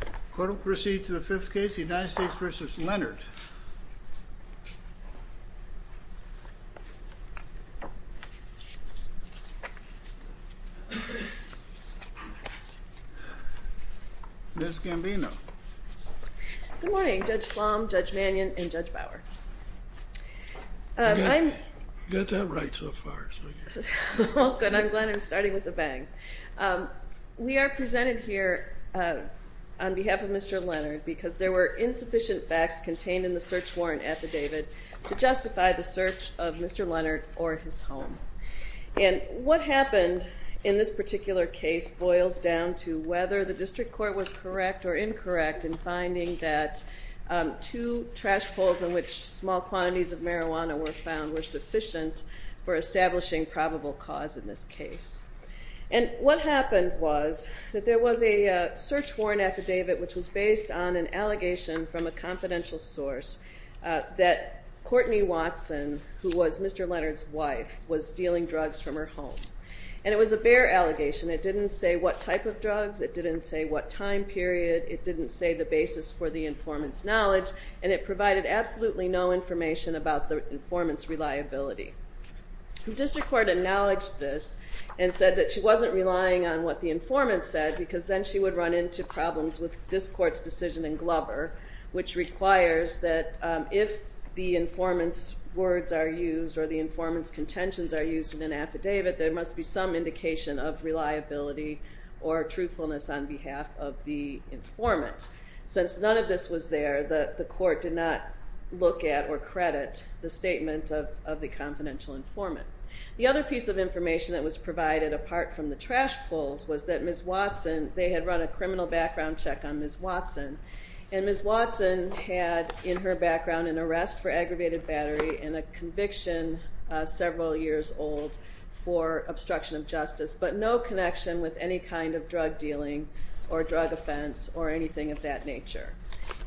The court will proceed to the fifth case, United States v. Leonard. Ms. Gambino. Good morning, Judge Flom, Judge Mannion, and Judge Bauer. You got that right so far. Oh good, I'm glad I'm starting with a bang. We are presented here on behalf of Mr. Leonard because there were insufficient facts contained in the search warrant affidavit to justify the search of Mr. Leonard or his home. And what happened in this particular case boils down to whether the district court was correct or incorrect in finding that two trash poles in which small quantities of marijuana were found were sufficient for establishing probable cause in this case. And what happened was that there was a search warrant affidavit which was based on an allegation from a confidential source that Courtney Watson, who was Mr. Leonard's wife, was dealing drugs from her home. And it was a bare allegation. It didn't say what type of drugs, it didn't say what time period, it didn't say the basis for the informant's knowledge, and it provided absolutely no information about the informant's reliability. The district court acknowledged this and said that she wasn't relying on what the informant said because then she would run into problems with this court's decision in Glover which requires that if the informant's words are used or the informant's contentions are used in an affidavit, there must be some indication of reliability or truthfulness on behalf of the informant. Since none of this was there, the court did not look at or credit the statement of the confidential informant. The other piece of information that was provided, apart from the trash pulls, was that Ms. Watson, they had run a criminal background check on Ms. Watson, and Ms. Watson had in her background an arrest for aggravated battery and a conviction several years old for obstruction of justice, but no connection with any kind of drug dealing or drug offense or anything of that nature.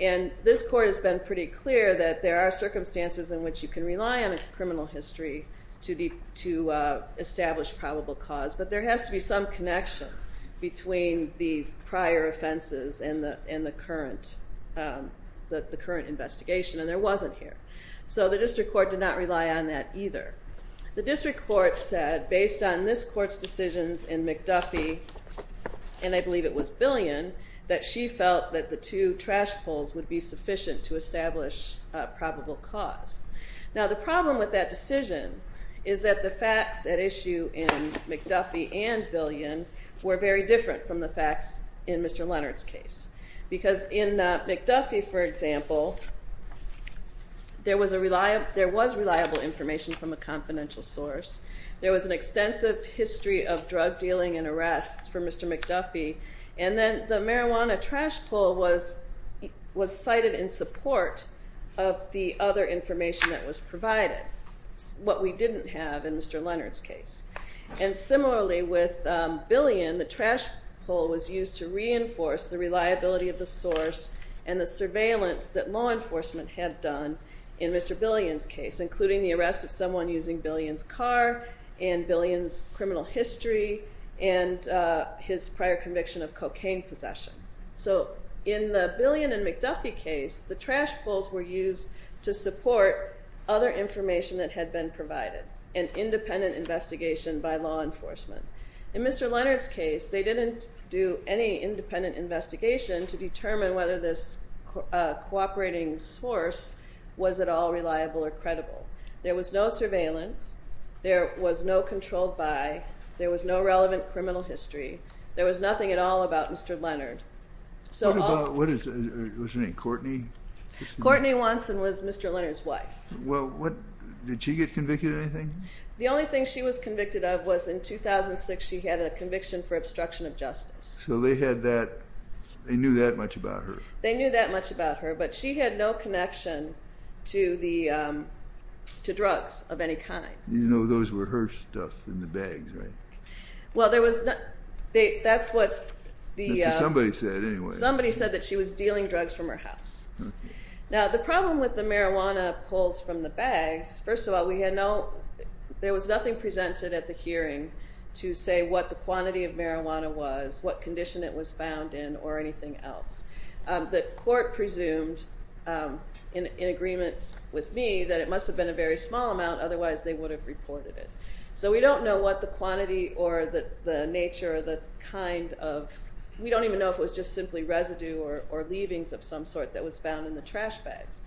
And this court has been pretty clear that there are circumstances in which you can rely on a criminal history to establish probable cause, but there has to be some connection between the prior offenses and the current investigation, and there wasn't here. So the district court did not rely on that either. The district court said, based on this court's decisions in McDuffie, and I believe it was Billion, that she felt that the two trash pulls would be sufficient to establish probable cause. Now the problem with that decision is that the facts at issue in McDuffie and Billion were very different from the facts in Mr. Leonard's case, because in McDuffie, for example, there was reliable information from a confidential source. There was an extensive history of drug dealing and arrests for Mr. McDuffie, and then the marijuana trash pull was cited in support of the other information that was provided, what we didn't have in Mr. Leonard's case. And similarly with Billion, the trash pull was used to reinforce the reliability of the source and the surveillance that law enforcement had done in Mr. Billion's case, including the arrest of someone using Billion's car and Billion's criminal history and his prior conviction of cocaine possession. So in the Billion and McDuffie case, the trash pulls were used to support other information that had been provided, an independent investigation by law enforcement. In Mr. Leonard's case, they didn't do any independent investigation to determine whether this cooperating source was at all reliable or credible. There was no surveillance. There was no controlled by. There was no relevant criminal history. There was nothing at all about Mr. Leonard. What about, what was her name, Courtney? Courtney Watson was Mr. Leonard's wife. Well, what, did she get convicted of anything? The only thing she was convicted of was in 2006, she had a conviction for obstruction of justice. So they had that, they knew that much about her. They knew that much about her, but she had no connection to drugs of any kind. You know those were her stuff in the bags, right? Well, there was, that's what the, That's what somebody said anyway. Somebody said that she was dealing drugs from her house. Now the problem with the marijuana pulls from the bags, first of all, we had no, there was nothing presented at the hearing to say what the quantity of marijuana was, what condition it was found in, or anything else. The court presumed, in agreement with me, that it must have been a very small amount, otherwise they would have reported it. So we don't know what the quantity or the nature or the kind of, we don't even know if it was just simply residue or leavings of some sort that was found in the trash bags.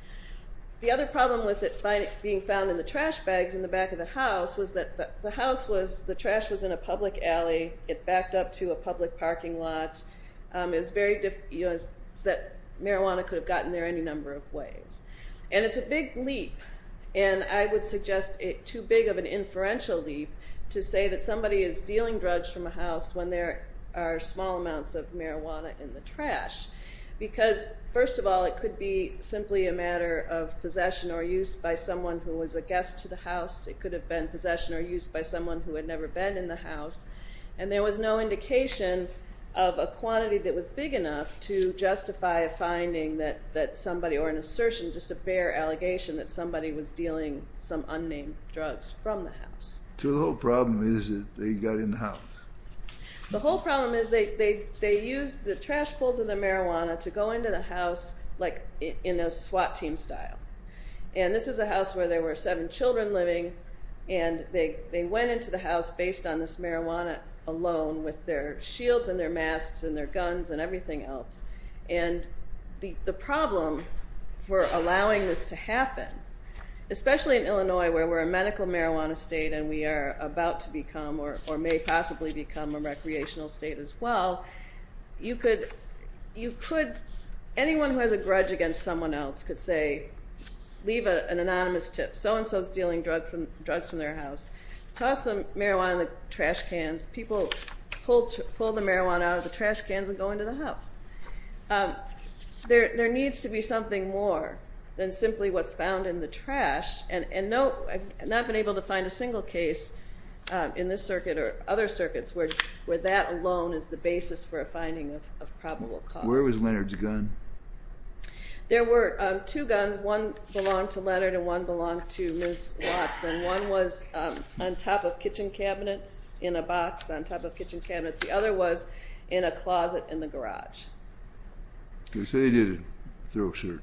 The other problem with it being found in the trash bags in the back of the house was that the house was, the trash was in a public alley. It backed up to a public parking lot. It was very, that marijuana could have gotten there any number of ways. And it's a big leap, and I would suggest too big of an inferential leap to say that somebody is dealing drugs from a house when there are small amounts of marijuana in the trash. Because, first of all, it could be simply a matter of possession or use by someone who was a guest to the house. It could have been possession or use by someone who had never been in the house. And there was no indication of a quantity that was big enough to justify a finding that somebody, or an assertion, just a fair allegation that somebody was dealing some unnamed drugs from the house. So the whole problem is that they got in the house. The whole problem is they used the trash pulls of the marijuana to go into the house like in a SWAT team style. And this is a house where there were seven children living, and they went into the house based on this marijuana alone with their shields and their masks and their guns and everything else. And the problem for allowing this to happen, especially in Illinois where we're a medical marijuana state and we are about to become or may possibly become a recreational state as well, you could, anyone who has a grudge against someone else could say leave an anonymous tip. So-and-so is dealing drugs from their house. Toss the marijuana in the trash cans. People pull the marijuana out of the trash cans and go into the house. There needs to be something more than simply what's found in the trash. And I've not been able to find a single case in this circuit or other circuits where that alone is the basis for a finding of probable cause. Where was Leonard's gun? There were two guns. One belonged to Leonard and one belonged to Ms. Watson. One was on top of kitchen cabinets in a box on top of kitchen cabinets. The other was in a closet in the garage. They say they did a thorough search.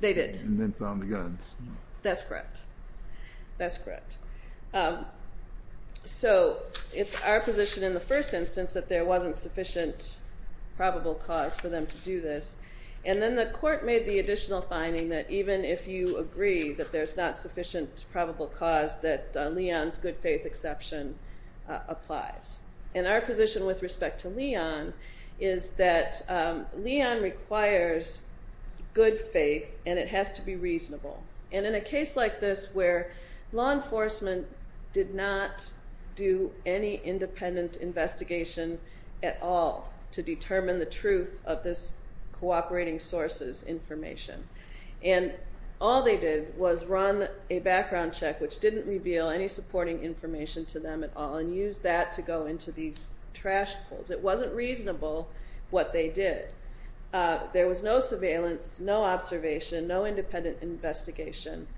They did. And then found the guns. That's correct. That's correct. So it's our position in the first instance that there wasn't sufficient probable cause for them to do this. And then the court made the additional finding that even if you agree that there's not sufficient probable cause, that Leon's good faith exception applies. And our position with respect to Leon is that Leon requires good faith and it has to be reasonable. And in a case like this where law enforcement did not do any independent investigation at all to determine the truth of this cooperating source's information. And all they did was run a background check, which didn't reveal any supporting information to them at all, and used that to go into these trash pulls. It wasn't reasonable what they did. There was no surveillance, no observation, no independent investigation.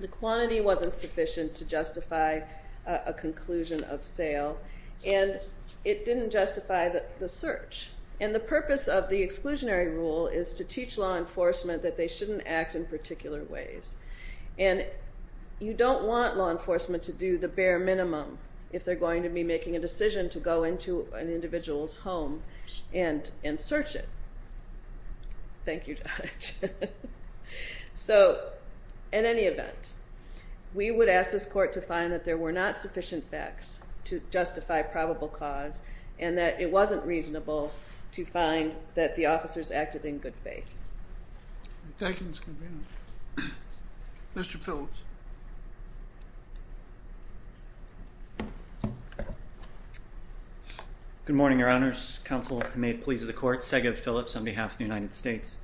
The quantity wasn't sufficient to justify a conclusion of sale. And it didn't justify the search. And the purpose of the exclusionary rule is to teach law enforcement that they shouldn't act in particular ways. And you don't want law enforcement to do the bare minimum if they're going to be making a decision to go into an individual's home and search it. Thank you, Judge. So, in any event, we would ask this court to find that there were not sufficient facts to justify probable cause and that it wasn't reasonable to find that the officers acted in good faith. Thank you, Ms. Convener. Mr. Phillips. Good morning, Your Honors. Counsel may please the court. Segev Phillips on behalf of the United States.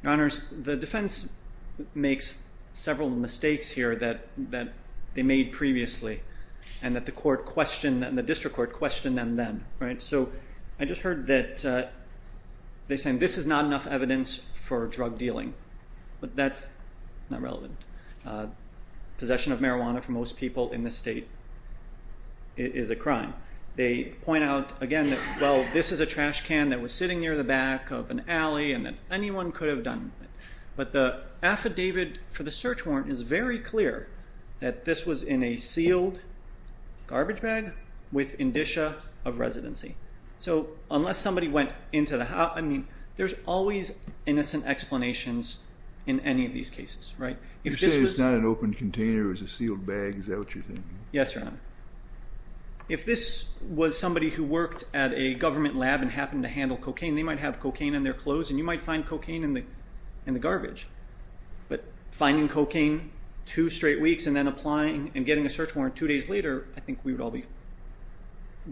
Your Honors, the defense makes several mistakes here that they made previously and that the district court questioned them then. So I just heard that they're saying this is not enough evidence for drug dealing, but that's not relevant. Possession of marijuana for most people in this state is a crime. They point out, again, that, well, this is a trash can that was sitting near the back of an alley and that anyone could have done it. But the affidavit for the search warrant is very clear that this was in a sealed garbage bag with indicia of residency. So unless somebody went into the house, I mean, there's always innocent explanations in any of these cases, right? You say it's not an open container, it's a sealed bag. Is that what you're saying? Yes, Your Honor. If this was somebody who worked at a government lab and happened to handle cocaine, they might have cocaine in their clothes and you might find cocaine in the garbage. But finding cocaine two straight weeks and then applying and getting a search warrant two days later, I think we would all be,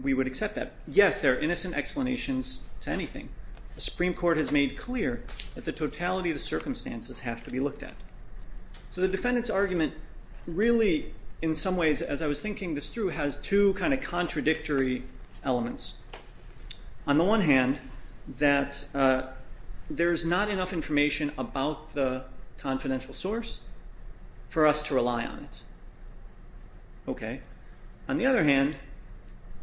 we would accept that. Yes, there are innocent explanations to anything. The Supreme Court has made clear that the totality of the circumstances have to be looked at. So the defendant's argument really, in some ways, as I was thinking this through, has two kind of contradictory elements. On the one hand, that there's not enough information about the confidential source for us to rely on it. Okay. On the other hand,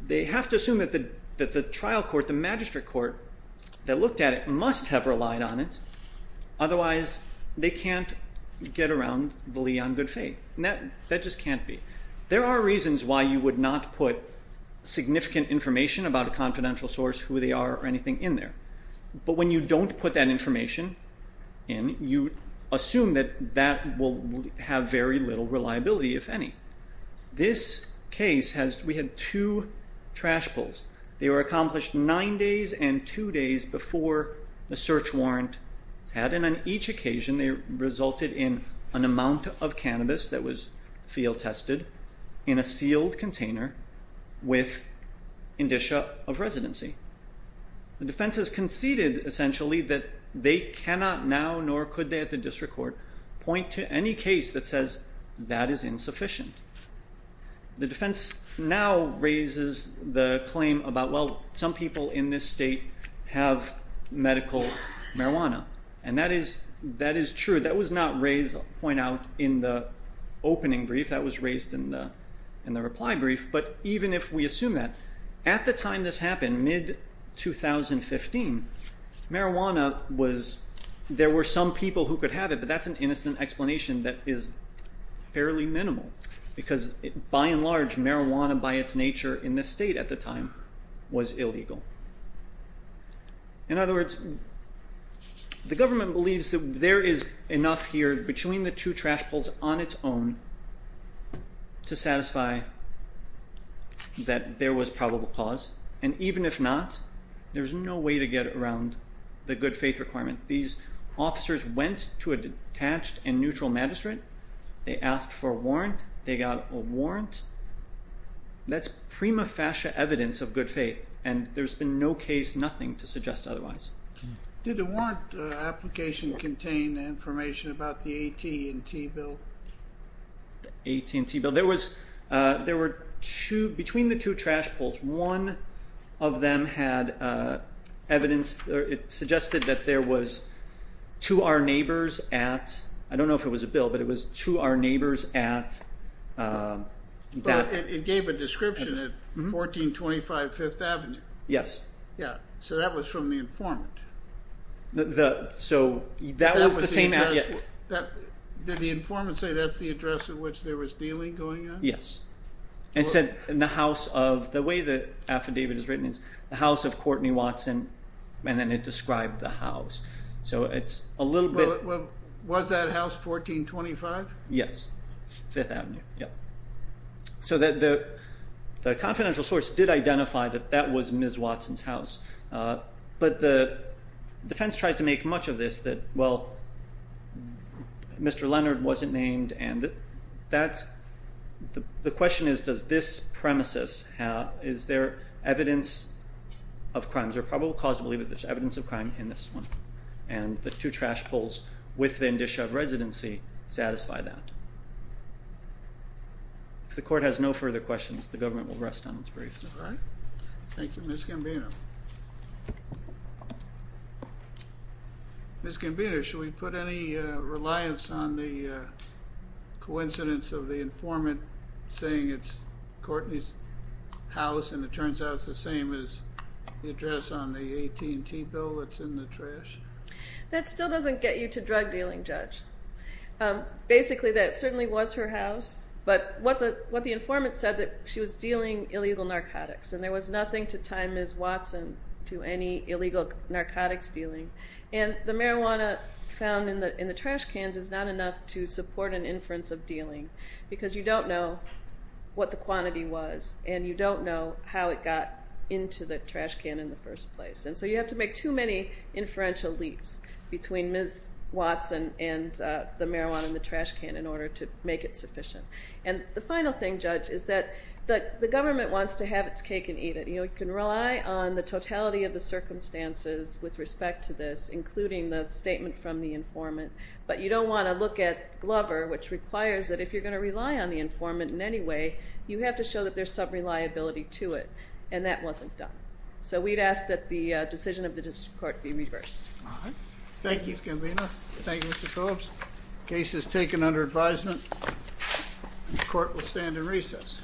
they have to assume that the trial court, the magistrate court that looked at it, must have relied on it. Otherwise, they can't get around the lee on good faith. That just can't be. There are reasons why you would not put significant information about a confidential source, who they are, or anything in there. But when you don't put that information in, you assume that that will have very little reliability, if any. This case has, we had two trash pulls. They were accomplished nine days and two days before the search warrant was had. And on each occasion, they resulted in an amount of cannabis that was field tested in a sealed container with indicia of residency. The defense has conceded, essentially, that they cannot now, nor could they at the district court, point to any case that says that is insufficient. The defense now raises the claim about, well, some people in this state have medical marijuana. And that is true. That was not raised, point out, in the opening brief. That was raised in the reply brief. But even if we assume that, at the time this happened, mid-2015, marijuana was, there were some people who could have it, but that's an innocent explanation that is fairly minimal. Because by and large, marijuana by its nature in this state at the time was illegal. In other words, the government believes that there is enough here between the two trash pulls on its own to satisfy that there was probable cause. And even if not, there's no way to get around the good faith requirement. These officers went to a detached and neutral magistrate. They asked for a warrant. They got a warrant. That's prima facie evidence of good faith. And there's been no case, nothing to suggest otherwise. Did the warrant application contain information about the AT&T bill? AT&T bill. There were two, between the two trash pulls, one of them had evidence, it suggested that there was to our neighbors at, I don't know if it was a bill, but it was to our neighbors at. But it gave a description of 1425 5th Avenue. Yes. So that was from the informant. So that was the same address. Did the informant say that's the address at which there was dealing going on? Yes. It said in the house of, the way the affidavit is written, the house of Courtney Watson, and then it described the house. So it's a little bit. Was that house 1425? Yes. 5th Avenue. Yeah. So the confidential source did identify that that was Ms. Watson's house. But the defense tries to make much of this that, well, Mr. Leonard wasn't named. And that's, the question is, does this premises have, is there evidence of crimes? There are probable cause to believe that there's evidence of crime in this one. And the two trash pulls within Dishoved Residency satisfy that. If the court has no further questions, the government will rest on its brief. All right. Thank you, Ms. Gambino. Ms. Gambino, should we put any reliance on the coincidence of the informant saying it's Courtney's house, and it turns out it's the same as the address on the AT&T bill that's in the trash? That still doesn't get you to drug dealing, Judge. Basically, that certainly was her house. But what the informant said, that she was dealing illegal narcotics, and there was nothing to tie Ms. Watson to any illegal narcotics dealing. And the marijuana found in the trash cans is not enough to support an inference of dealing because you don't know what the quantity was and you don't know how it got into the trash can in the first place. And so you have to make too many inferential leaps between Ms. Watson and the marijuana in the trash can in order to make it sufficient. And the final thing, Judge, is that the government wants to have its cake and eat it. You can rely on the totality of the circumstances with respect to this, including the statement from the informant, but you don't want to look at Glover, which requires that if you're going to rely on the informant in any way, you have to show that there's some reliability to it, and that wasn't done. So we'd ask that the decision of the district court be reversed. All right. Thank you, Ms. Gambino. Thank you, Mr. Phillips. Case is taken under advisement, and the court will stand in recess. Thank you.